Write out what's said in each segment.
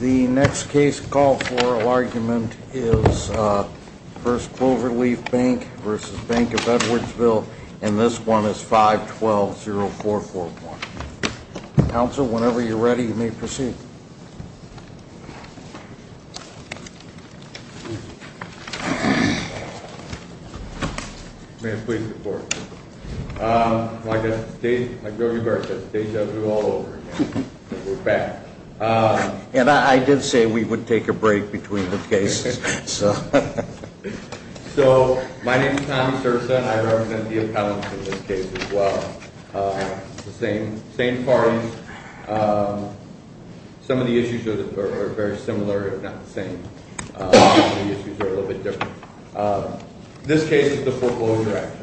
The next case call for argument is First Clover Leaf Bank v. Bank of Edwardsville and this one is 512-0441. Counsel, whenever you're ready, you may proceed. May I please report? Like I said, it's a day job to do all over again. We're back. And I did say we would take a break between the cases. So, my name is Tommy Serza and I represent the appellants in this case as well. The same parties. Some of the issues are very similar, if not the same. Some of the issues are a little bit different. This case is the foreclosure action.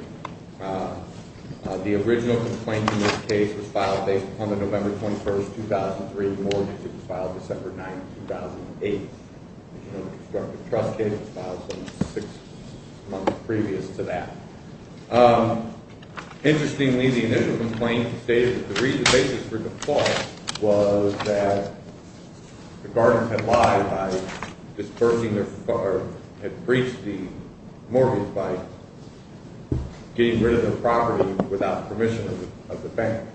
The original complaint in this case was filed based upon the November 21, 2003 mortgage. It was filed December 9, 2008. The constructive trust case was filed six months previous to that. Interestingly, the initial complaint stated that the basis for the fault was that the gardeners had lied by disbursing or had breached the mortgage by getting rid of the property without permission of the bank.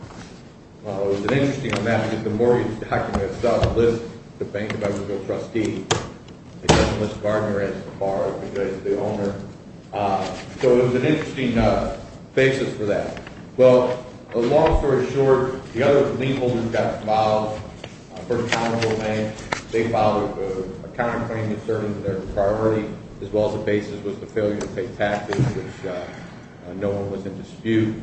Well, it was interesting on that because the mortgage document itself lists the Bank of Edwardsville trustee. It doesn't list the gardener as the borrower because it's the owner. So, it was an interesting basis for that. Well, the long story short, the other lien holders got involved. The first counsel of the bank, they filed a counterclaim concerning their property as well as the basis was the failure to take taxes. No one was in dispute.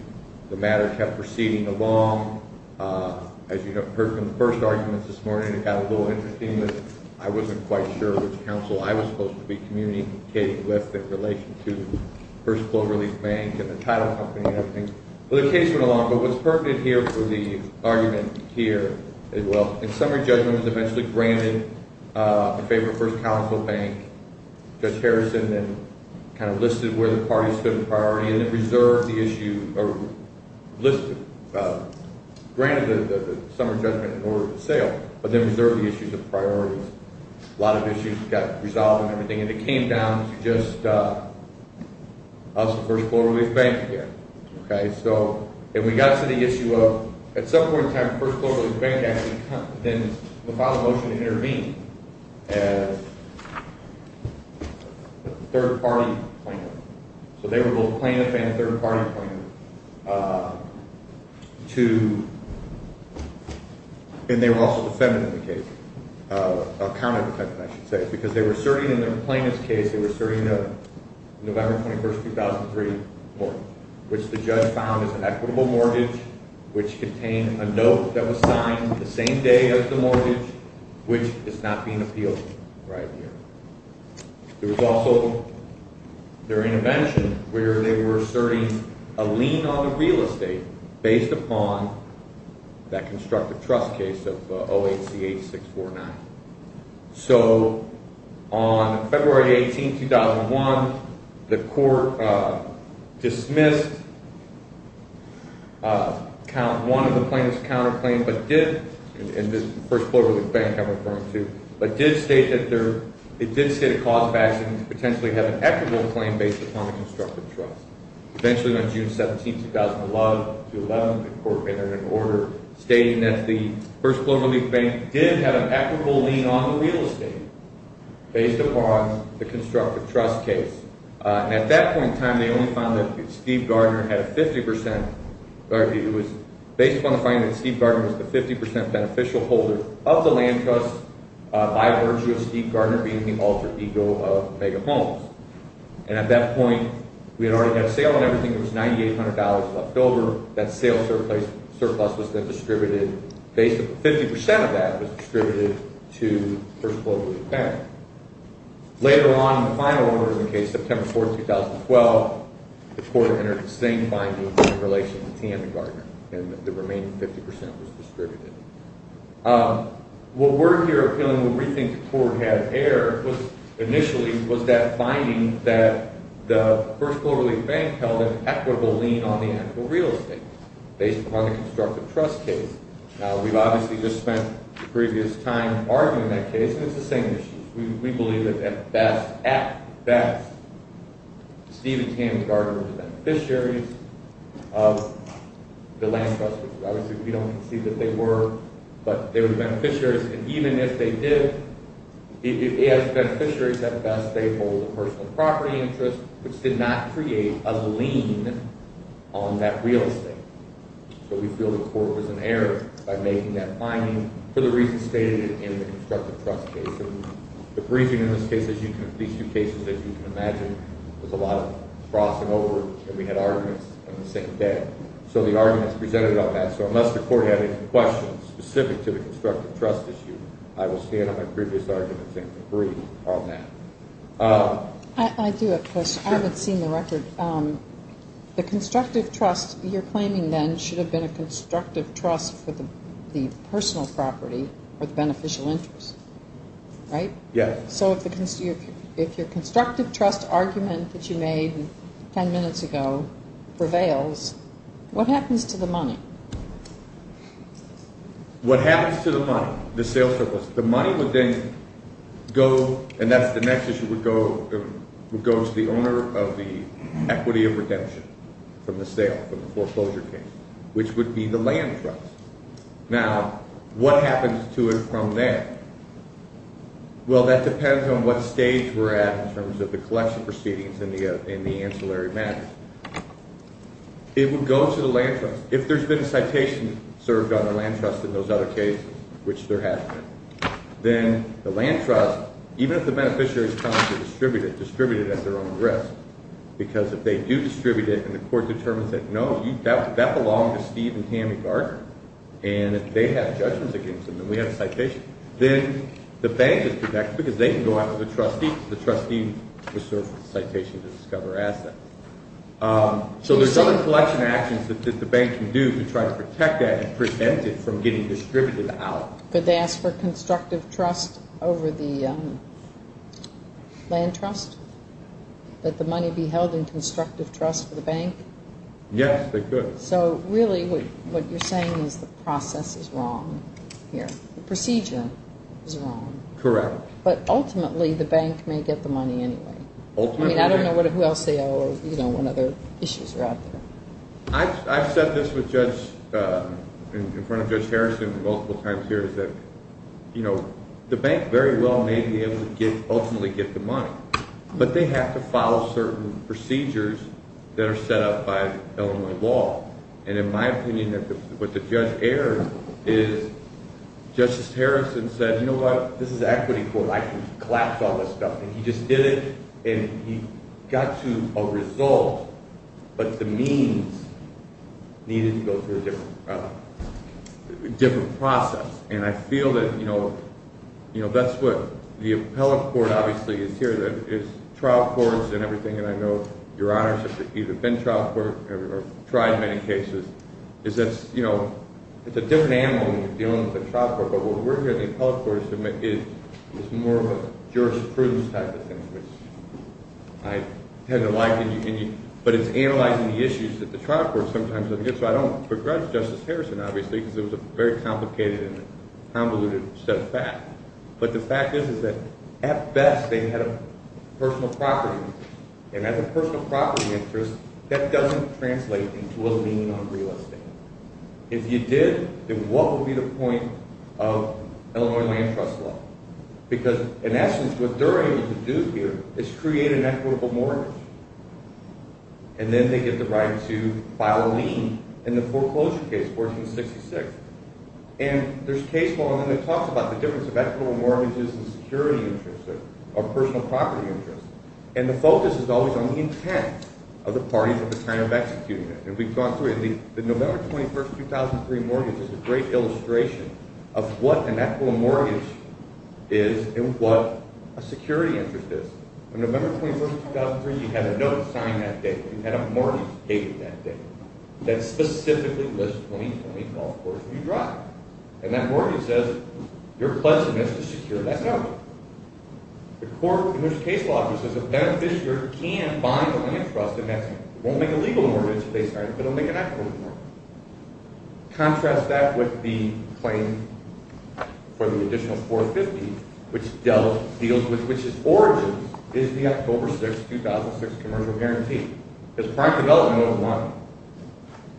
The matter kept proceeding along. As you heard from the first argument this morning, it got a little interesting. I wasn't quite sure which counsel I was supposed to be communicating with in relation to First Cloverleaf Bank and the title company and everything. Well, the case went along, but what's pertinent here for the argument here as well, in summary, judgment was eventually granted in favor of First Counsel Bank. Judge Harrison then kind of listed where the parties stood in priority and then reserved the issue or granted the summary judgment in order to sale but then reserved the issue of priorities. A lot of issues got resolved and everything, and it came down to just us and First Cloverleaf Bank here. Okay, so, and we got to the issue of, at some point in time, First Cloverleaf Bank actually then filed a motion to intervene as a third-party planner. So they were both plaintiff and third-party planner to, and they were also defendant in the case, or counter-defendant, I should say, because they were asserting in their plaintiff's case, they were asserting a November 21, 2003 mortgage, which the judge found as an equitable mortgage, which contained a note that was signed the same day as the mortgage, which is not being appealed right here. There was also their intervention where they were asserting a lien on the real estate based upon that constructive trust case of 08-CH-649. So on February 18, 2001, the court dismissed one of the plaintiff's counterclaims but did, and this is First Cloverleaf Bank I'm referring to, but did state that they're, it did state a cause of action to potentially have an equitable claim based upon a constructive trust. Eventually on June 17, 2011, the court entered an order stating that the First Cloverleaf Bank did have an equitable lien on the real estate based upon the constructive trust case. At that point in time, they only found that Steve Gardner had a 50 percent, it was based upon the finding that Steve Gardner was the 50 percent beneficial holder of the land trust by virtue of Steve Gardner being the alter ego of Vega Homes. And at that point, we had already had a sale on everything. There was $9,800 left over. That sale surplus was then distributed, 50 percent of that was distributed to First Cloverleaf Bank. Later on, in the final order of the case, September 4, 2012, the court entered the same findings in relation to T.M. and Gardner and the remaining 50 percent was distributed. What we're here appealing when we think the court had error was, initially, was that finding that the First Cloverleaf Bank held an equitable lien on the actual real estate based upon the constructive trust case. Now, we've obviously just spent the previous time arguing that case, and it's the same issue. We believe that at best, at best, Steve and T.M. Gardner were beneficiaries of the land trust. Obviously, we don't see that they were, but they were beneficiaries, and even if they did, as beneficiaries, at best, they hold a personal property interest, which did not create a lien on that real estate. So we feel the court was in error by making that finding for the reasons stated in the constructive trust case. The briefing in this case, these two cases, as you can imagine, was a lot of crossing over, and we had arguments on the same day. So the arguments presented on that, so unless the court had any questions specific to the constructive trust issue, I will stand on my previous arguments and agree on that. I do have a question. I haven't seen the record. The constructive trust you're claiming then should have been a constructive trust for the personal property or the beneficial interest, right? Yes. So if your constructive trust argument that you made 10 minutes ago prevails, what happens to the money? What happens to the money, the sales surplus? The money would then go, and that's the next issue, would go to the owner of the equity of redemption from the sale, from the foreclosure case, which would be the land trust. Now, what happens to it from there? Well, that depends on what stage we're at in terms of the collection proceedings and the ancillary matters. It would go to the land trust. If there's been a citation served on the land trust in those other cases, which there has been, then the land trust, even if the beneficiaries come to distribute it, distribute it at their own risk, because if they do distribute it and the court determines that, no, that belonged to Steve and Tammy Gardner, and they have judgments against them and we have a citation, then the bank is protected because they can go out to the trustee and the trustee will serve the citation to discover assets. So there's other collection actions that the bank can do to try to protect that and prevent it from getting distributed out. Could they ask for constructive trust over the land trust? Let the money be held in constructive trust for the bank? Yes, they could. So really what you're saying is the process is wrong here. The procedure is wrong. Correct. But ultimately the bank may get the money anyway. Ultimately. I mean, I don't know who else they owe or, you know, what other issues are out there. I've said this in front of Judge Harrison multiple times here is that, you know, the bank very well may be able to ultimately get the money, but they have to follow certain procedures that are set up by Illinois law. And in my opinion, what the judge erred is Justice Harrison said, you know what, this is equity court. I can collapse all this stuff. And he just did it and he got to a result, but the means needed to go through a different process. And I feel that, you know, that's what the appellate court obviously is here, that it's trial courts and everything, and I know, Your Honor, since you've been in trial court or tried many cases, is that, you know, it's a different animal when you're dealing with a trial court, but what we're here at the appellate court to submit is more of a jurisprudence type of thing, which I tend to like, but it's analyzing the issues that the trial court sometimes doesn't get. So I don't regret Justice Harrison, obviously, because it was a very complicated and convoluted set of facts. But the fact is that at best they had a personal property interest, and as a personal property interest, that doesn't translate into a lien on real estate. If you did, then what would be the point of Illinois land trust law? Because in essence, what they're able to do here is create an equitable mortgage, and then they get the right to file a lien in the foreclosure case, 1466. And there's a case law that talks about the difference of equitable mortgages and security interests, or personal property interests, and the focus is always on the intent of the parties at the time of executing it. And we've gone through it. The November 21, 2003 mortgage is a great illustration of what an equitable mortgage is and what a security interest is. On November 21, 2003, you had a note signed that day. You had a mortgage paper that day that specifically lists 20, 20, 12 quarters you drive. And that mortgage says, you're pledging this to secure that note. The court, and there's a case law that says a beneficiary can buy the land trust, and that won't make a legal mortgage, but it'll make an equitable mortgage. Contrast that with the claim for the additional 450, which Dell deals with, which is origins, is the October 6, 2006 commercial guarantee. Because prime development, note one,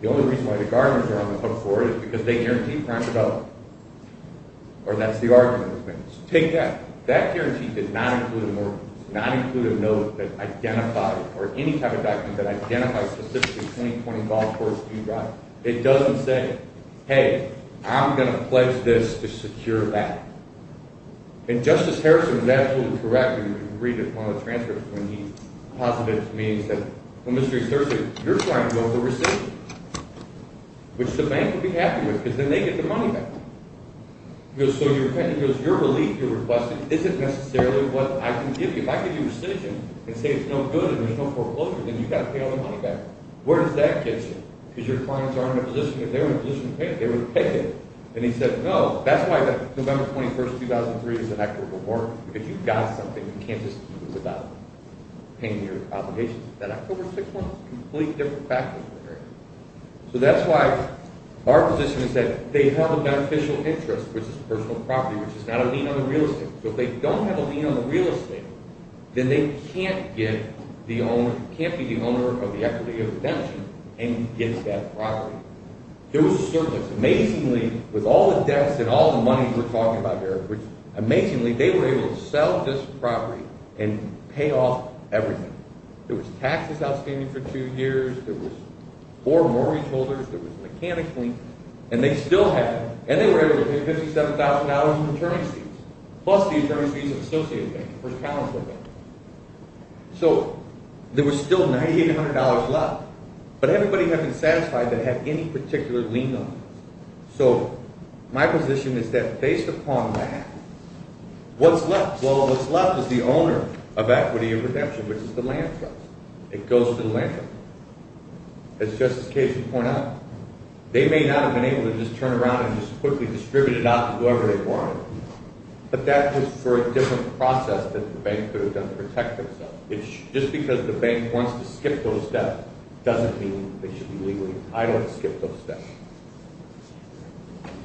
the only reason why the gardeners are on the hook for it is because they guarantee prime development, or that's the argument. Take that. That guarantee did not include a mortgage. It did not include a note that identified, or any type of document that identifies specifically 20, 20, 12 quarters you drive. It doesn't say, hey, I'm going to pledge this to secure that. And Justice Harrison is absolutely correct. You can read it in one of the transcripts when he posited it to me. He said, well, Mr. Sturgeon, you're trying to go for receipt, which the bank would be happy with because then they get the money back. He goes, so your relief you're requesting isn't necessarily what I can give you. If I give you a decision and say it's no good and there's no foreclosure, then you've got to pay all the money back. Where does that get you? Because your clients are in a position, if they were in a position to pay, they would take it. And he said, no. That's why the November 21, 2003 is an equitable mortgage. If you've got something, you can't just use it without paying your obligations. That October 6 one is a completely different factor. So that's why our position is that they have a beneficial interest, which is personal property, which is not a lien on the real estate. So if they don't have a lien on the real estate, then they can't be the owner of the equity of redemption and get that property. There was a surplus. Amazingly, with all the debts and all the money we're talking about here, amazingly, they were able to sell this property and pay off everything. There was taxes outstanding for two years. There was four mortgage holders. There was a mechanic lien. And they were able to pay $57,000 in attorney fees, plus the attorney fees of the associate bank, the first counselor bank. So there was still $9,800 left, but everybody had been satisfied to have any particular lien on it. So my position is that based upon that, what's left? Well, what's left is the owner of equity of redemption, which is the land trust. It goes to the land trust. As Justice Kagan pointed out, they may not have been able to just turn around and just quickly distribute it out to whoever they wanted, but that was for a different process that the bank could have done to protect themselves. Just because the bank wants to skip those debts doesn't mean they should be legally entitled to skip those debts.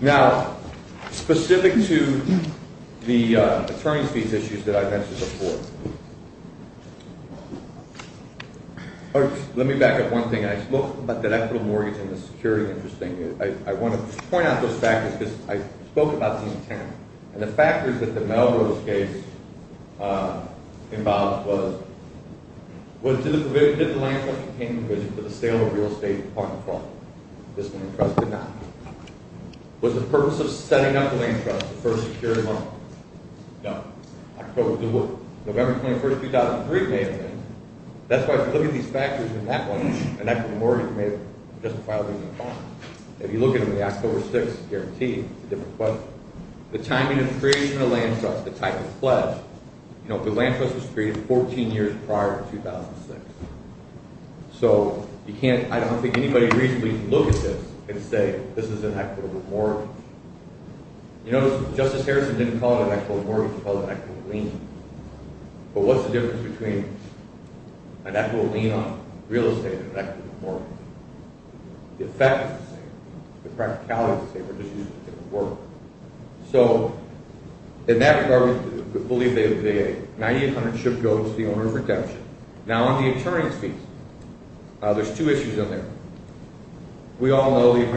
Now, specific to the attorney fees issues that I mentioned before. Let me back up one thing. I spoke about that equity of mortgage and the security interest thing. I want to point out those factors because I spoke about the intent. And the factors that the Melrose case involved was, did the land trust obtain the vision for the sale of real estate upon the clause? This land trust did not. Was the purpose of setting up the land trust the first security loan? No. October 2, November 21, 2003 may have been. That's why if you look at these factors in that one, an equity of mortgage may have justified leaving the bond. If you look at them in the October 6, guaranteed, it's a different question. The timing of the creation of the land trust, the type of pledge. The land trust was created 14 years prior to 2006. So I don't think anybody can reasonably look at this and say this is an equity of mortgage. You notice Justice Harrison didn't call it an equity of mortgage, he called it an equity of lien. But what's the difference between an equity of lien on real estate and an equity of mortgage? The effect is the same. The practicality is the same. We're just using a different word. So in that regard, we believe 9,800 should go to the owner of redemption. Now on the attorney's fees, there's two issues in there. We all know it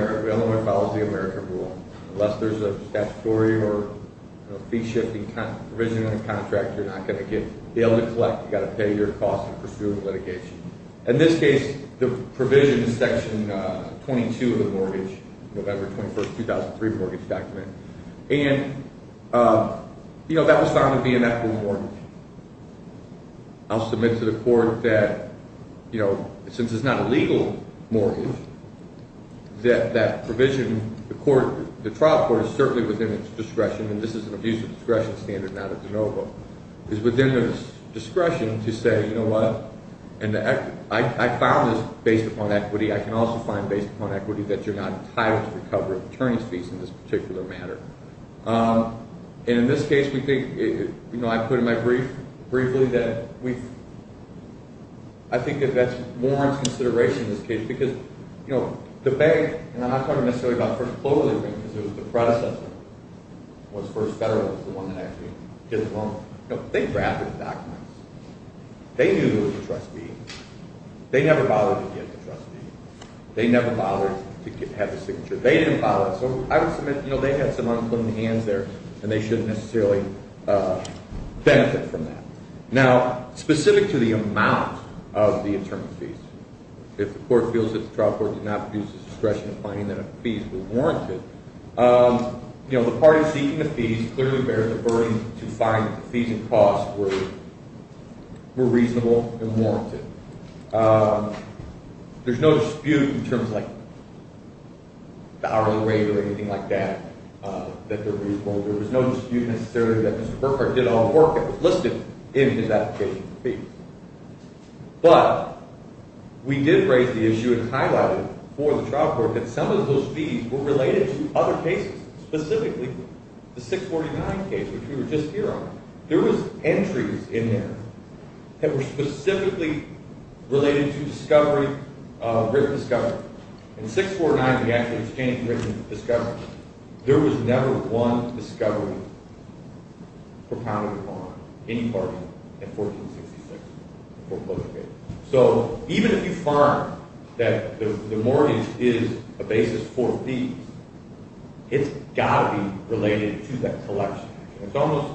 follows the American rule. Unless there's a statutory or fee-shifting provision on a contract, you're not going to be able to collect. In this case, the provision is section 22 of the mortgage, November 21, 2003 mortgage document. And, you know, that was found to be an equity of mortgage. I'll submit to the court that, you know, since it's not a legal mortgage, that that provision, the trial court is certainly within its discretion, and this is an abuse of discretion standard, not a de novo, is within its discretion to say, you know what, I found this based upon equity. I can also find based upon equity that you're not entitled to recover attorney's fees in this particular matter. And in this case, we think, you know, I put in my brief briefly that we've, I think that that warrants consideration in this case, because, you know, the bank, and I'm not talking necessarily about First Global, because it was the predecessor, was First Federal was the one that actually did the loan. You know, they drafted the documents. They knew it was a trustee. They never bothered to get the trustee. They never bothered to have the signature. They didn't bother. So I would submit, you know, they had some unclean hands there, and they shouldn't necessarily benefit from that. Now, specific to the amount of the attorney's fees, if the court feels that the trial court did not produce a discretion in finding that fees were warranted, you know, the parties seeking the fees clearly bear the burden to find that the fees and costs were reasonable and warranted. There's no dispute in terms of like the hourly rate or anything like that, that they're reasonable. There was no dispute necessarily that Mr. Burkhart did all the work that was listed in his application for fees. But we did raise the issue and highlight it for the trial court that some of those fees were related to other cases, specifically the 649 case, which we were just here on. There was entries in there that were specifically related to discovery, written discovery. In 649, we actually obtained written discovery. There was never one discovery propounded upon any party in 1466. So even if you find that the mortgage is a basis for fees, it's got to be related to that collection. It's almost,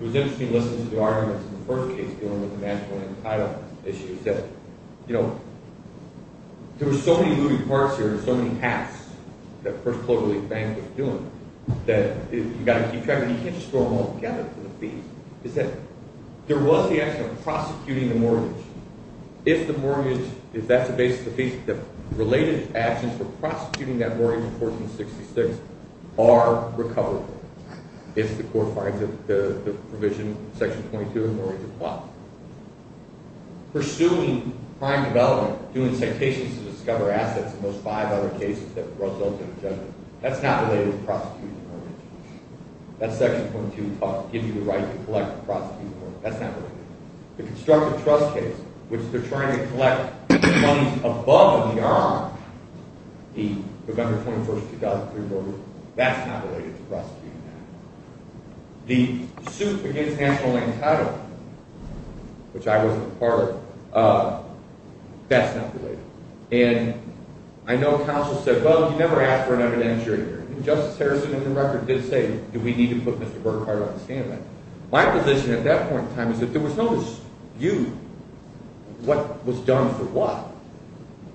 it was interesting listening to the arguments in the first case dealing with the national title issues, that, you know, there were so many moving parts here and so many hats that the First Poverty Relief Bank was doing that you've got to keep track of it. You can't just throw them all together for the fee. It's that there was the action of prosecuting the mortgage. If the mortgage, if that's the basis of fees, the related actions for prosecuting that mortgage in 1466 are recoverable. If the court finds that the provision in section 22 of the mortgage is blocked. Pursuing crime development, doing citations to discover assets in those five other cases that result in a judgment, that's not related to prosecuting the mortgage. That section 22 gives you the right to collect and prosecute the mortgage. That's not related to that. The constructive trust case, which they're trying to collect the monies above and beyond the November 21st, 2003, that's not related to prosecuting that. The suit against national land title, which I wasn't a part of, that's not related. And I know counsel said, well, you never asked for an evidentiary hearing. Justice Harrison, in the record, did say, do we need to put Mr. Burkhardt on the stand? My position at that point in time is that there was no dispute what was done for what.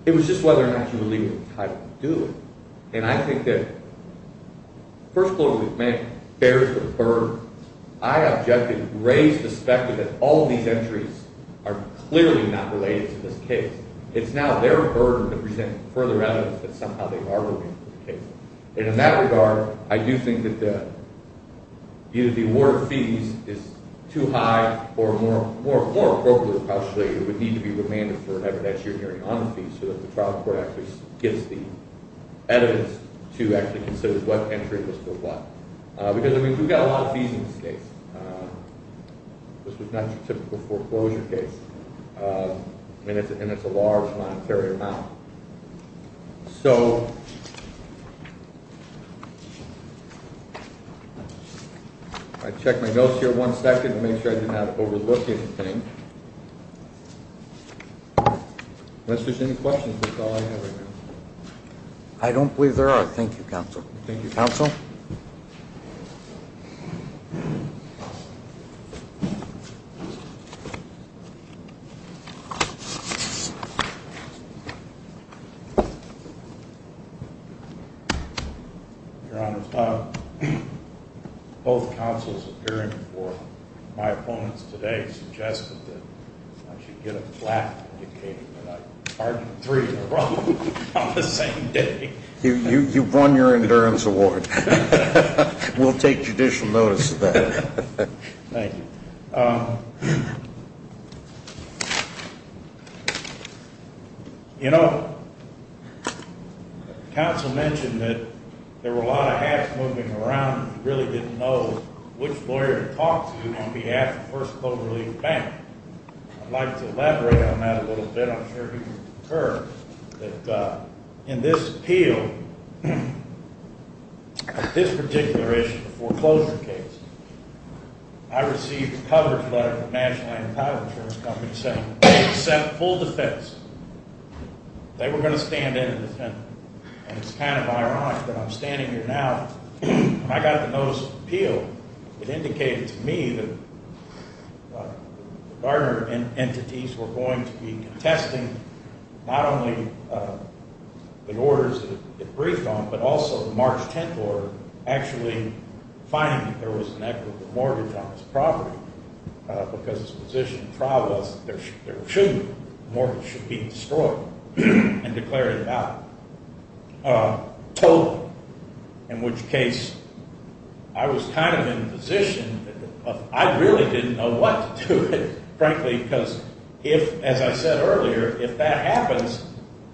It was just whether or not you were legally entitled to do it. And I think that, first of all, we've met barriers that have occurred. I objected, raised the specter that all these entries are clearly not related to this case. It's now their burden to present further evidence that somehow they are related to the case. And in that regard, I do think that either the award of fees is too high or more appropriately, it would need to be remanded for an evidentiary hearing on the fees so that the trial court actually gets the evidence to actually consider what entry was for what. Because, I mean, we've got a lot of fees in this case. This was not your typical foreclosure case. And it's a large monetary amount. So, if I check my notes here one second and make sure I didn't overlook anything. Unless there's any questions, that's all I have right now. I don't believe there are. Thank you, Counsel. Your Honor, both counsels appearing before my opponents today suggested that I should get a flat indicating that I argued three in a row on the same day. You've won your endurance award. We'll take judicial notice of that. Thank you. You know, counsel mentioned that there were a lot of hats moving around and he really didn't know which lawyer to talk to on behalf of the First Global League Bank. I'd like to elaborate on that a little bit. I'm sure you've heard that in this appeal, this particular issue, the foreclosure case, I received a coverage letter from the National Land and Tile Insurance Company saying they had sent full defense. They were going to stand in and defend me. And it's kind of ironic that I'm standing here now and I got the notice of appeal. It indicated to me that the Garner entities were going to be contesting not only the orders that it briefed on, but also the March 10th order actually finding that there was an equitable mortgage on this property because its position in trial was that there shouldn't be. The mortgage should be destroyed and declared invalid. Total, in which case I was kind of in a position of I really didn't know what to do with it, frankly, because if, as I said earlier, if that happens,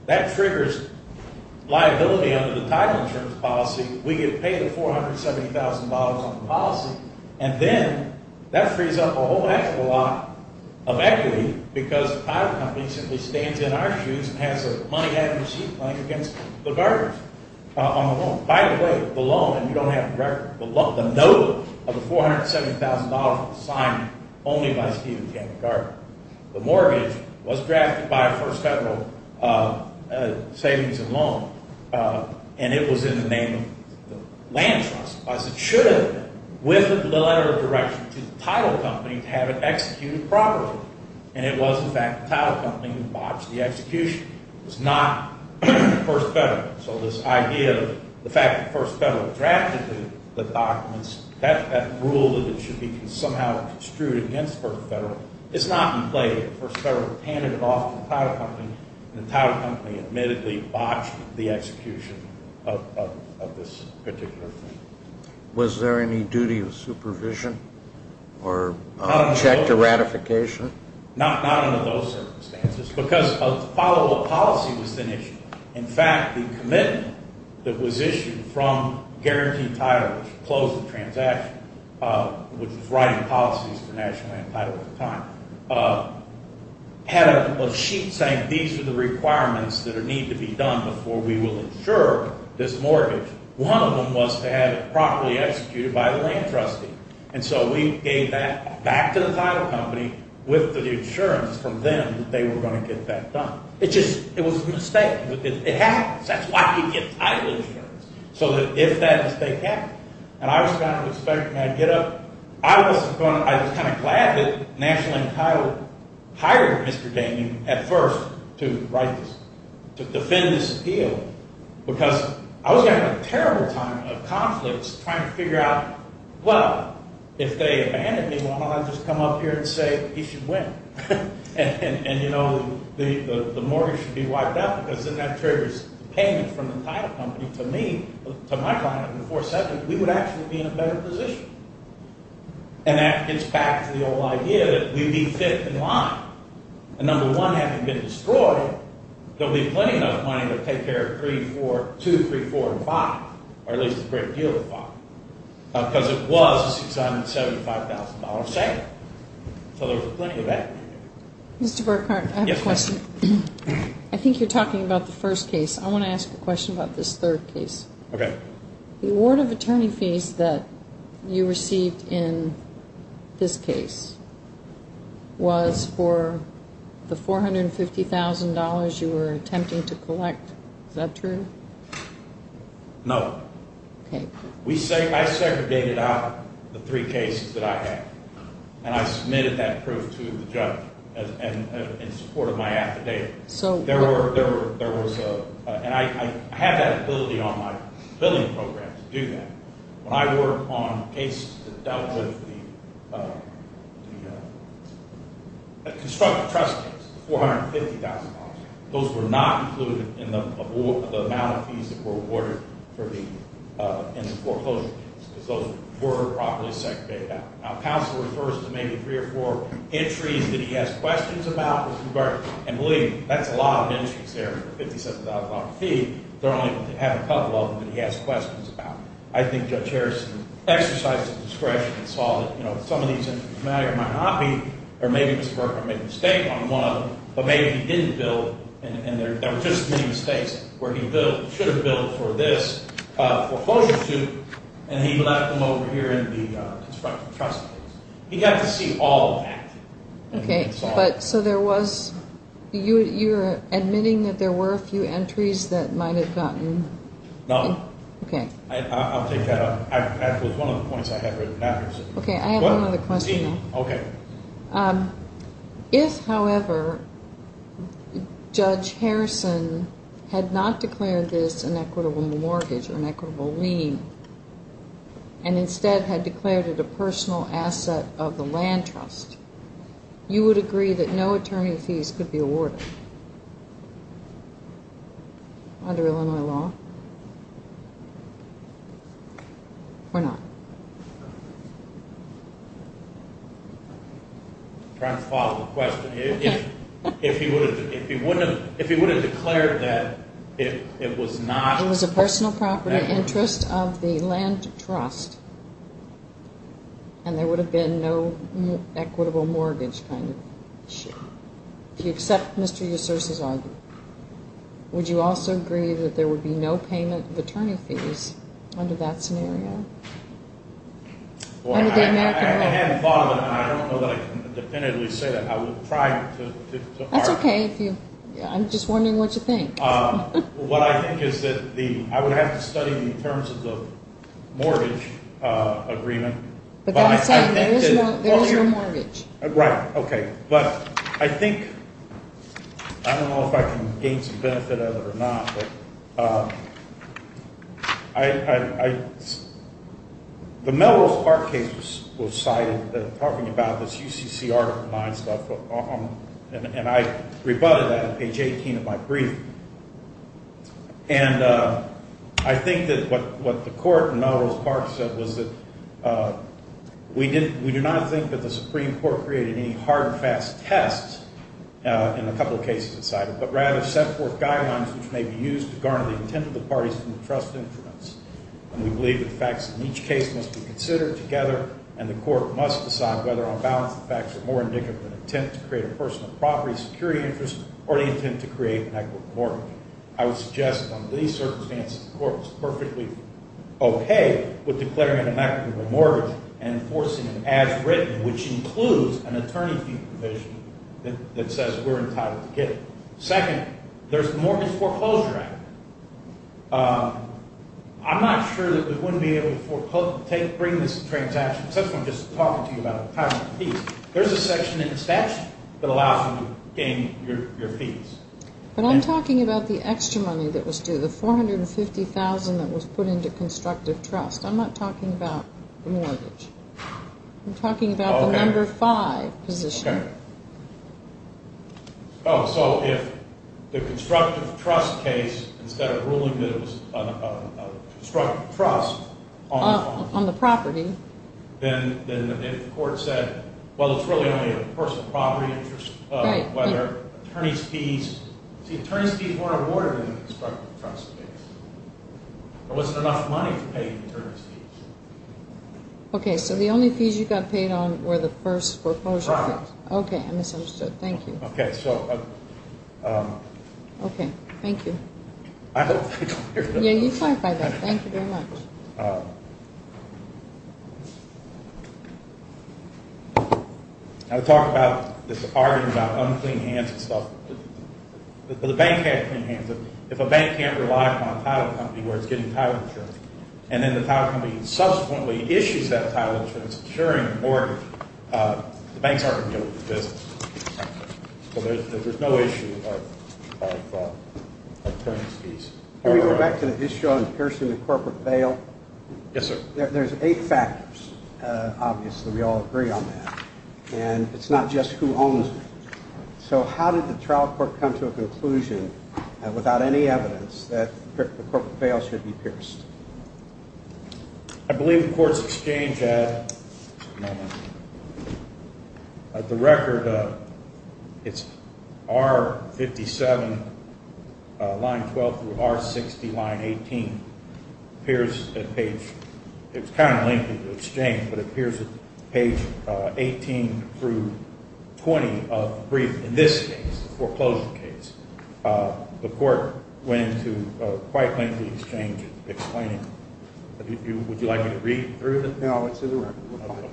that triggers liability under the title insurance policy. We get paid $470,000 on the policy and then that frees up a whole actual lot of equity because the title company simply stands in our shoes and has the money out of the sea playing against the Garners on the loan. By the way, the loan, and you don't have the record, the note of the $470,000 was signed only by Steve and Tammy Garner. The mortgage was drafted by a first federal savings and loan, and it was in the name of the land trust. With the letter of direction to the title company to have it executed properly, and it was, in fact, the title company who botched the execution. It was not the first federal. So this idea of the fact that the first federal drafted the documents, that rule that it should be somehow construed against the first federal, it's not in play here. The first federal handed it off to the title company, and the title company admittedly botched the execution of this particular thing. Was there any duty of supervision or check to ratification? Not under those circumstances because a followable policy was then issued. In fact, the commitment that was issued from Guaranteed Title, which closed the transaction, which was writing policies for National Land Title at the time, had a sheet saying these are the requirements that need to be done before we will insure this mortgage. One of them was to have it properly executed by the land trustee. And so we gave that back to the title company with the insurance from them that they were going to get that done. It was a mistake. It happens. That's why you get title insurance, so that if that mistake happened. And I was kind of expecting I'd get up. I was kind of glad that National Land Title hired Mr. Damien at first to write this, to defend this appeal, because I was having a terrible time of conflicts trying to figure out, well, if they abandoned me, why don't I just come up here and say he should win? And, you know, the mortgage should be wiped out because then that triggers payment from the title company to me, to my client in the fourth sector, we would actually be in a better position. And that gets back to the old idea that we'd be fifth in line. And number one, having been destroyed, they'll be plenty of money to take care of 3, 4, 2, 3, 4, and 5, or at least a great deal of 5, because it was a $675,000 sale. So there was plenty of equity. Mr. Burkhart, I have a question. I think you're talking about the first case. I want to ask a question about this third case. Okay. The award of attorney fees that you received in this case was for the $450,000 you were attempting to collect. Is that true? No. Okay. I segregated out the three cases that I had, and I submitted that proof to the judge in support of my affidavit. And I had that ability on my billing program to do that. When I worked on cases that dealt with the constructive trust case, the $450,000, those were not included in the amount of fees that were awarded in the foreclosure case, because those were properly segregated out. Now, counsel refers to maybe three or four entries that he has questions about, Mr. Burkhart, and believe me, that's a lot of entries there for a $50,000 fee. They're only going to have a couple of them that he has questions about. I think Judge Harrison exercised his discretion and saw that some of these entries might or might not be, or maybe Mr. Burkhart made a mistake on one of them, but maybe he didn't bill, and there were just as many mistakes where he should have billed for this foreclosure suit, and he left them over here in the constructive trust case. He got to see all of that. Okay. So there was, you're admitting that there were a few entries that might have gotten? No. Okay. I'll take that up. That was one of the points I had written down. Okay. I have one other question. Okay. If, however, Judge Harrison had not declared this an equitable mortgage or an equitable lien and instead had declared it a personal asset of the land trust, you would agree that no attorney fees could be awarded under Illinois law or not? I'm trying to follow the question. If he would have declared that it was not? It was a personal property interest of the land trust, and there would have been no equitable mortgage kind of issue. Do you accept Mr. Yusur's argument? Would you also agree that there would be no payment of attorney fees under that scenario? Under the American law? I haven't thought of it, and I don't know that I can definitively say that. I would try to argue. That's okay. I'm just wondering what you think. What I think is that I would have to study it in terms of the mortgage agreement. But that's saying there is no mortgage. Right. Okay. But I think, I don't know if I can gain some benefit out of it or not, but the Melrose Park case was cited, talking about this UCC Article 9 stuff, and I rebutted that at page 18 of my briefing. And I think that what the court in Melrose Park said was that we do not think that the Supreme Court created any hard and fast tests in a couple of cases it cited, but rather set forth guidelines which may be used to garner the intent of the parties in the trust interest. And we believe the facts in each case must be considered together, and the court must decide whether on balance the facts are more indicative of an intent to create a personal property, security interest, or the intent to create an equitable mortgage. I would suggest that under these circumstances, the court is perfectly okay with declaring an inequitable mortgage and enforcing an as written, which includes an attorney fee provision that says we're entitled to get it. Second, there's the mortgage foreclosure act. I'm not sure that we wouldn't be able to bring this transaction, so I'm just talking to you about the types of fees. There's a section in the statute that allows you to gain your fees. But I'm talking about the extra money that was due, the $450,000 that was put into constructive trust. I'm not talking about the mortgage. I'm talking about the number five position. Okay. Oh, so if the constructive trust case, instead of ruling that it was a constructive trust on the property, then the court said, well, it's really only a personal property interest, whether attorney's fees. See, attorney's fees weren't awarded in the constructive trust case. There wasn't enough money to pay the attorney's fees. Okay, so the only fees you got paid on were the first foreclosure fees. Okay, I misunderstood. Thank you. Okay, so. Okay, thank you. I hope I don't hear that. Yeah, you clarified that. Thank you very much. I was talking about this argument about unclean hands and stuff. The bank has clean hands. If a bank can't rely on a title company where it's getting title insurance, and then the title company subsequently issues that title insurance insuring the mortgage, the banks aren't going to be able to do business. So there's no issue of attorney's fees. Can we go back to the issue on piercing the corporate veil? Yes, sir. There's eight factors, obviously. We all agree on that. And it's not just who owns it. So how did the trial court come to a conclusion without any evidence that the corporate veil should be pierced? I believe the court's exchange at the record, it's R57, line 12 through R60, line 18, appears at page 18 through 20 of the brief. In this case, the foreclosure case, the court went into quite lengthy exchange explaining it. Would you like me to read through it? No, it's in the room.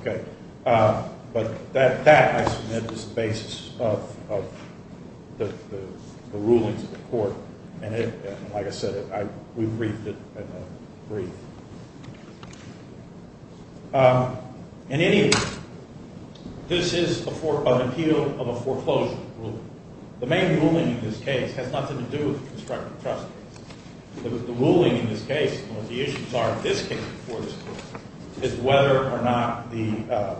Okay. But that, I submit, is the basis of the rulings of the court. And like I said, we briefed it in the brief. In any event, this is an appeal of a foreclosure ruling. The main ruling in this case has nothing to do with the constructive trust case. The ruling in this case, what the issues are in this case before this court, is whether or not the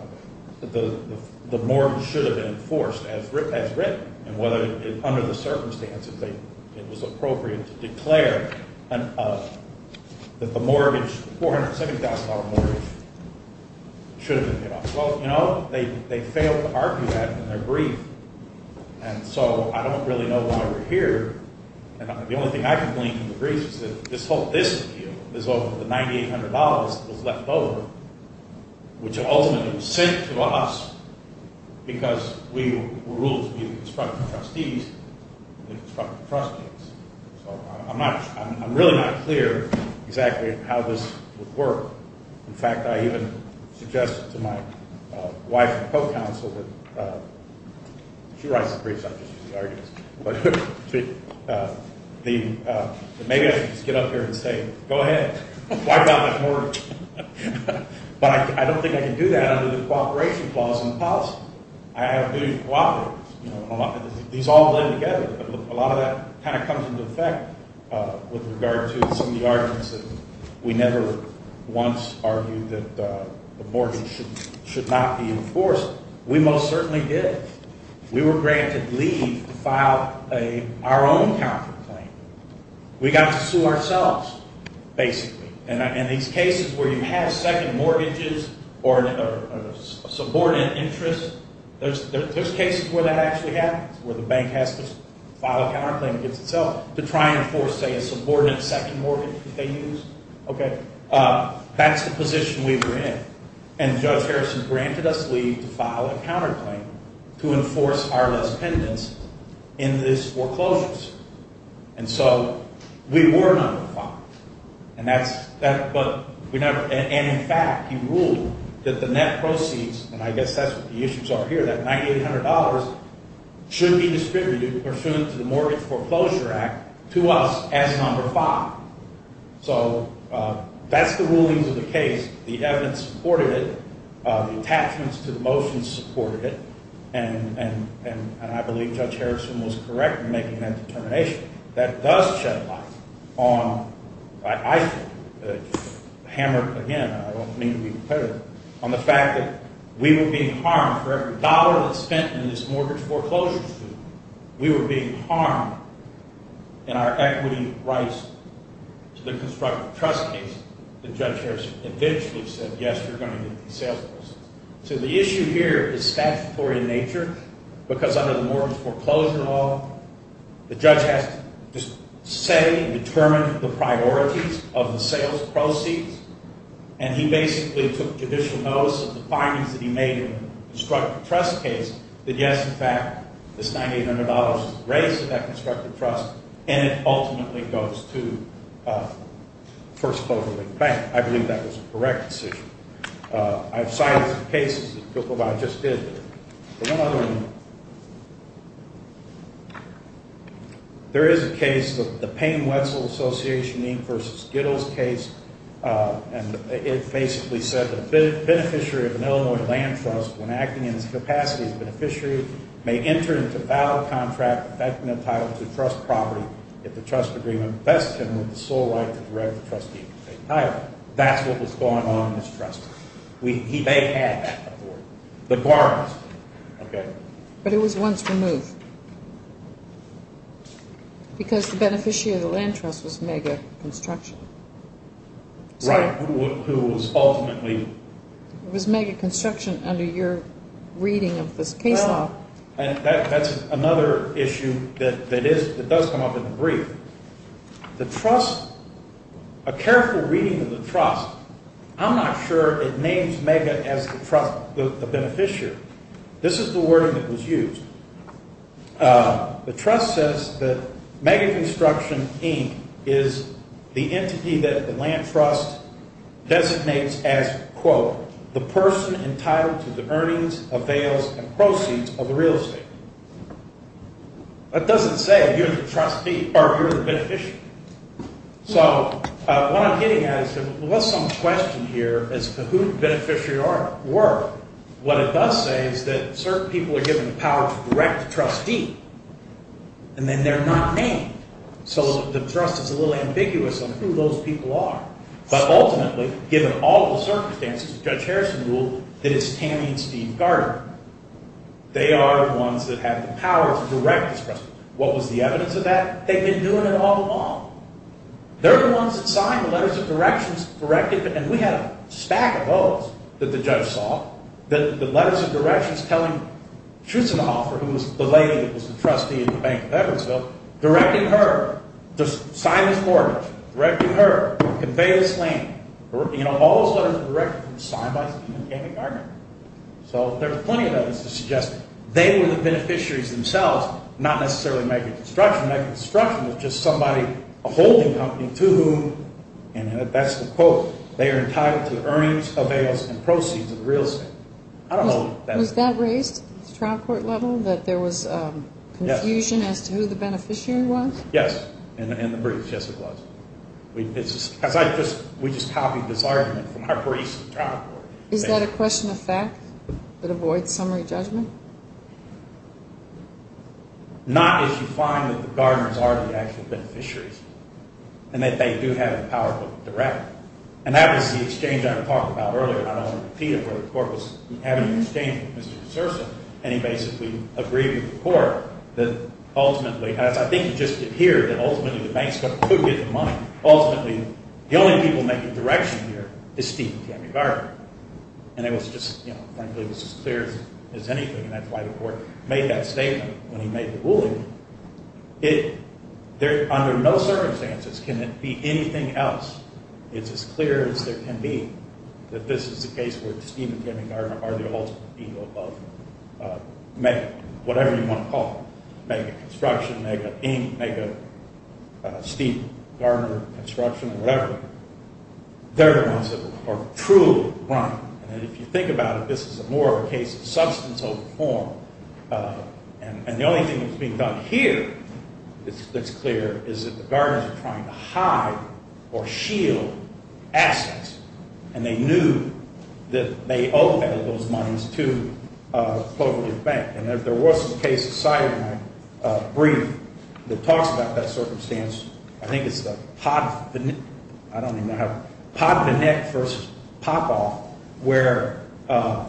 mortgage should have been enforced as written, and whether under the circumstances it was appropriate to declare that the mortgage, the $470,000 mortgage, should have been paid off. Well, you know, they failed to argue that in their brief. And so I don't really know why we're here. And the only thing I can glean from the brief is that this whole dispute is over the $9,800 that was left over, which ultimately was sent to us because we were ruled to be the constructive trustees in the constructive trust case. So I'm really not clear exactly how this would work. In fact, I even suggested to my wife and co-counsel that she writes the briefs. I'm just using the arguments. Maybe I should just get up here and say, go ahead, wipe out my mortgage. But I don't think I can do that under the cooperation clause in the policy. I have a duty to cooperate. These all blend together. A lot of that kind of comes into effect with regard to some of the arguments that we never once argued that the mortgage should not be enforced. We most certainly did. We were granted leave to file our own counterclaim. We got to sue ourselves, basically. And these cases where you have second mortgages or subordinate interest, there's cases where that actually happens, where the bank has to file a counterclaim against itself to try and enforce, say, a subordinate second mortgage that they use. Okay. That's the position we were in. And Judge Harrison granted us leave to file a counterclaim to enforce our less pendants in these foreclosures. And so we were number five. And in fact, he ruled that the net proceeds, and I guess that's what the issues are here, that $9,800 should be distributed pursuant to the Mortgage Foreclosure Act to us as number five. So that's the rulings of the case. The evidence supported it. The attachments to the motions supported it. And I believe Judge Harrison was correct in making that determination. That does shed light on, I think, hammered again, I don't mean to be repetitive, on the fact that we were being harmed for every dollar that's spent in this mortgage foreclosure suit. We were being harmed in our equity rights to the constructive trust case that Judge Harrison eventually said, yes, you're going to get these sales proceeds. So the issue here is statutory in nature because under the Mortgage Foreclosure Law, the judge has to say and determine the priorities of the sales proceeds. And he basically took judicial notice of the findings that he made in the constructive trust case that, yes, in fact, this $9,800 was raised at that constructive trust, and it ultimately goes to first closure of the bank. I believe that was a correct decision. I've cited some cases that people have just did. But one other one, there is a case, the Payne-Wetzel Association versus Gittles case, and it basically said that a beneficiary of an Illinois land trust, when acting in its capacity as a beneficiary, may enter into a valid contract affecting the title of the trust property if the trust agreement vests him with the sole right to direct the trustee to take the title. That's what was going on in this trust. They had that authority. The guarantors. But it was once removed because the beneficiary of the land trust was MEGA Construction. Right. Who was ultimately? It was MEGA Construction under your reading of this case law. That's another issue that does come up in the brief. The trust, a careful reading of the trust, I'm not sure it names MEGA as the beneficiary. This is the wording that was used. The trust says that MEGA Construction Inc. is the entity that the land trust designates as, quote, the person entitled to the earnings, avails, and proceeds of the real estate. That doesn't say if you're the trustee or if you're the beneficiary. So what I'm getting at is there was some question here as to who the beneficiary were. What it does say is that certain people are given the power to direct the trustee, and then they're not named. So the trust is a little ambiguous on who those people are. But ultimately, given all the circumstances, Judge Harrison ruled that it's Tammy and Steve Gardner. They are the ones that have the power to direct this trustee. What was the evidence of that? They've been doing it all along. They're the ones that signed the letters of directions, and we had a stack of those that the judge saw. The letters of directions telling Schutzenhofer, who was the lady that was the trustee in the Bank of Edwardsville, directing her to sign this mortgage, directing her to convey this land. All those letters of directions were signed by Tammy Gardner. So there are plenty of evidence to suggest they were the beneficiaries themselves, not necessarily Megastruction. Megastruction was just somebody, a holding company, to whom, and that's the quote, they are entitled to the earnings, avails, and proceeds of the real estate. Was that raised at the trial court level, that there was confusion as to who the beneficiary was? Yes, in the briefs. Yes, it was. We just copied this argument from our briefs at the trial court. Is that a question of fact that avoids summary judgment? Not if you find that the Gardners are the actual beneficiaries, and that they do have the power to direct. And that was the exchange I talked about earlier. I don't want to repeat it, but the court was having an exchange with Mr. DeSouza, and he basically agreed with the court that ultimately, as I think you just did here, that ultimately the banks are going to get the money. Ultimately, the only people making direction here is Steve and Tammy Gardner. And it was just, frankly, it was as clear as anything, and that's why the court made that statement when he made the ruling. Under no circumstances can it be anything else. It's as clear as there can be that this is the case where Steve and Tammy Gardner are the ultimate ego of Mega, whatever you want to call it, Mega construction, Mega ink, Mega Steve Gardner construction, whatever. They're the ones that are truly running. And if you think about it, this is more of a case of substance over form. And the only thing that's being done here that's clear is that the Gardners are trying to hide or shield assets, and they knew that they owed those moneys to the cooperative bank. And if there was a case cited in my brief that talks about that circumstance, I think it's the Podvinek versus Popov, where a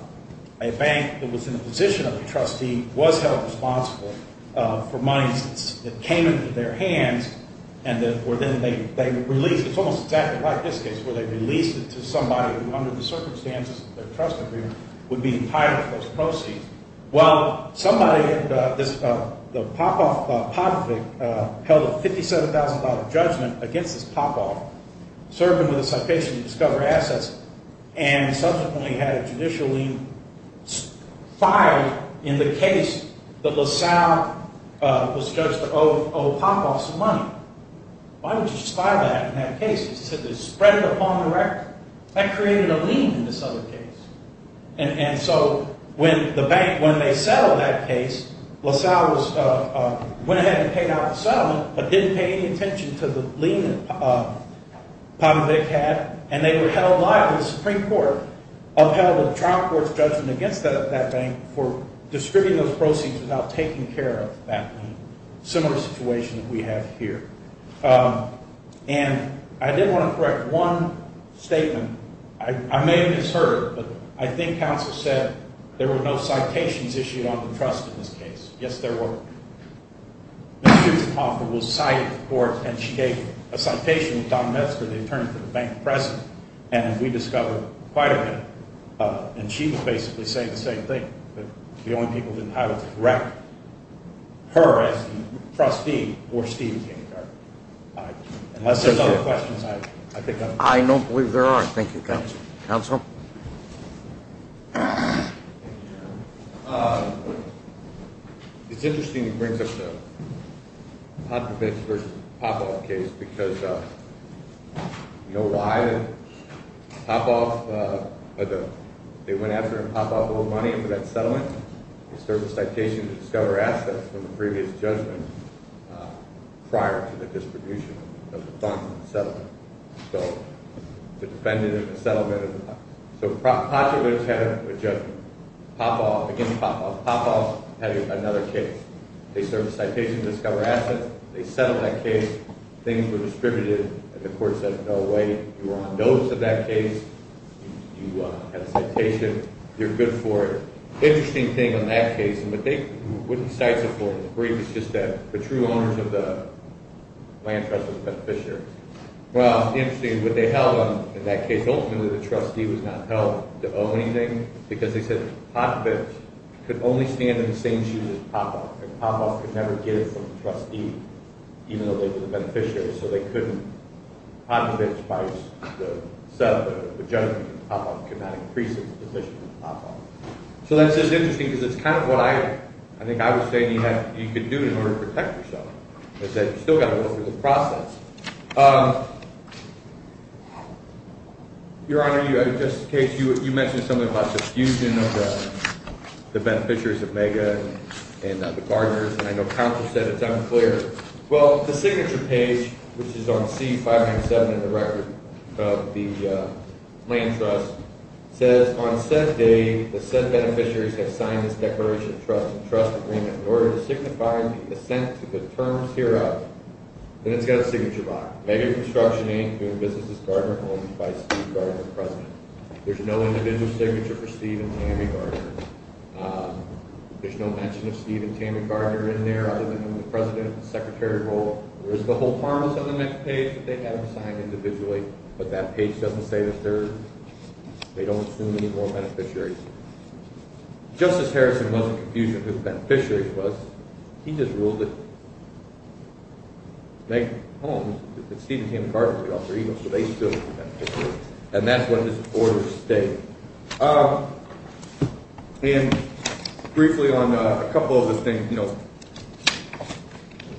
bank that was in the position of the trustee was held responsible for monies that came into their hands, and where then they released, it's almost exactly like this case, where they released it to somebody who under the circumstances of their trust agreement would be entitled to those proceeds. Well, somebody, the Popov, Podvinek, held a $57,000 judgment against this Popov, served him with a citation to discover assets, and subsequently had a judicial lien filed in the case that LaSalle was judged to owe Popov some money. Why would you file that in that case? You said they spread it upon the record. That created a lien in this other case. And so when the bank, when they settled that case, LaSalle went ahead and paid out the settlement, but didn't pay any attention to the lien that Podvinek had, and they were held liable, the Supreme Court upheld the trial court's judgment against that bank for distributing those proceeds without taking care of that lien. Similar situation that we have here. And I did want to correct one statement. I may have misheard, but I think counsel said there were no citations issued on the trust in this case. Yes, there were. Ms. Chutenoff was cited to the court, and she gave a citation to Don Metzger, the attorney to the bank president, and we discovered quite a bit of it. And she was basically saying the same thing, but the only people who didn't have it were her as the trustee or Steve Jane Carter. Unless there's other questions, I think I'm done. I don't believe there are. Thank you, counsel. Counsel? Thank you, Your Honor. It's interesting he brings up the Podvinek versus Popoff case, because you know why they went after Popoff with money for that settlement? Because there was a citation to discover assets from the previous judgment prior to the distribution of the funds in the settlement. So the defendant in the settlement. So Podvinek had a judgment. Again, Popoff had another case. They served a citation to discover assets. They settled that case. Things were distributed, and the court said, no way. You were on notice of that case. You had a citation. You're good for it. The interesting thing on that case, and what they wouldn't cite it for in the brief, is just that the true owners of the land trust was a beneficiary. Well, the interesting thing is what they held on in that case. Ultimately, the trustee was not held to owe anything, because they said Podvinek could only stand in the same shoes as Popoff, and Popoff could never get it from the trustee, even though they were the beneficiary. So they couldn't. Podvinek's price, the settlement, the judgment, Popoff could not increase its position with Popoff. So that's just interesting, because it's kind of what I think I was saying you could do in order to protect yourself, is that you've still got to go through the process. Your Honor, just in case, you mentioned something about the fusion of the beneficiaries of MAGA and the gardeners, and I know counsel said it's unclear. Well, the signature page, which is on C-507 in the record of the land trust, says, on said day, the said beneficiaries have signed this declaration of trust and trust agreement in order to signify the assent to the terms hereof. And it's got a signature on it. MAGA Construction Inc. doing business with Gardner Homes by Steve Gardner, the president. There's no individual signature for Steve and Tammy Gardner. There's no mention of Steve and Tammy Gardner in there, other than in the president and secretary role. There's the whole harmless on the next page, but they have them signed individually. But that page doesn't say that they don't assume any more beneficiaries. Justice Harrison wasn't confused as to who the beneficiary was. He just ruled that MAGA Homes, that Steve and Tammy Gardner were the author, even, so they still were beneficiaries. And that's what this order stated. And briefly on a couple of the things. You know,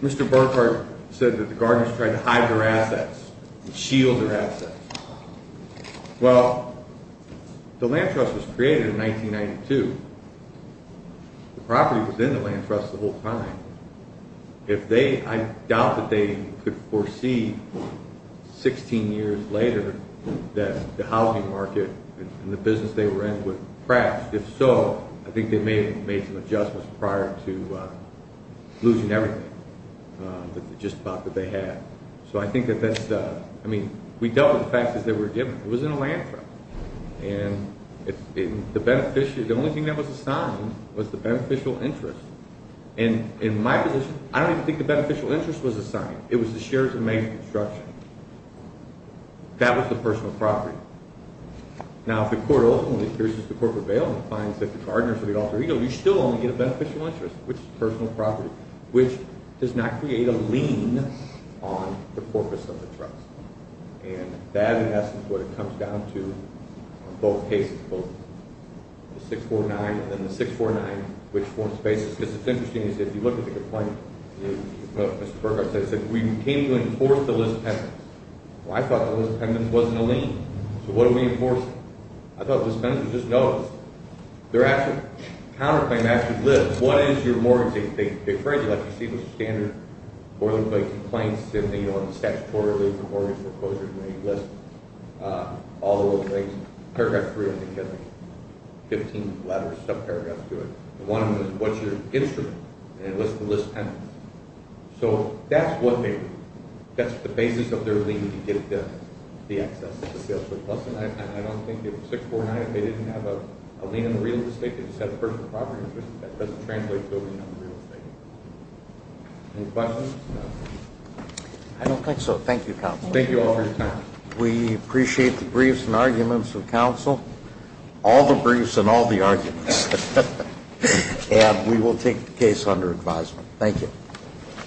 Mr. Burkhart said that the Gardners tried to hide their assets and shield their assets. Well, the land trust was created in 1992. The property was in the land trust the whole time. I doubt that they could foresee 16 years later that the housing market and the business they were in would crash. If so, I think they may have made some adjustments prior to losing everything, just about, that they had. So I think that that's – I mean, we dealt with the fact that they were given. It was in a land trust. And the only thing that was assigned was the beneficial interest. And in my position, I don't even think the beneficial interest was assigned. It was the shares of MAGA Construction. That was the personal property. Now, if the court ultimately hears this, the court prevails and finds that the Gardners are the author, you still only get a beneficial interest, which is personal property, which does not create a lien on the corpus of the trust. And that, in essence, is what it comes down to on both cases, both the 649 and then the 649, which forms the basis. Because it's interesting. If you look at the complaint, Mr. Perkar said, we came to enforce the list of pendants. Well, I thought the list of pendants wasn't a lien. So what are we enforcing? I thought the dispenser just knows. Their actual counterclaim actually lives. What is your mortgage? As you see, there's a standard boilerplate complaints in the statutory lease and mortgage proposals, and they list all those things. Paragraph 3, I think, has 15 letters, subparagraphs to it. One of them is, what's your instrument? And it lists the list of pendants. So that's what they do. That's the basis of their lien to get the access to Salesforce. And I don't think if 649, if they didn't have a lien in the real estate, that doesn't translate to building on the real estate. Any questions? I don't think so. Thank you, counsel. Thank you all for your time. We appreciate the briefs and arguments of counsel. All the briefs and all the arguments. And we will take the case under advisement. Thank you.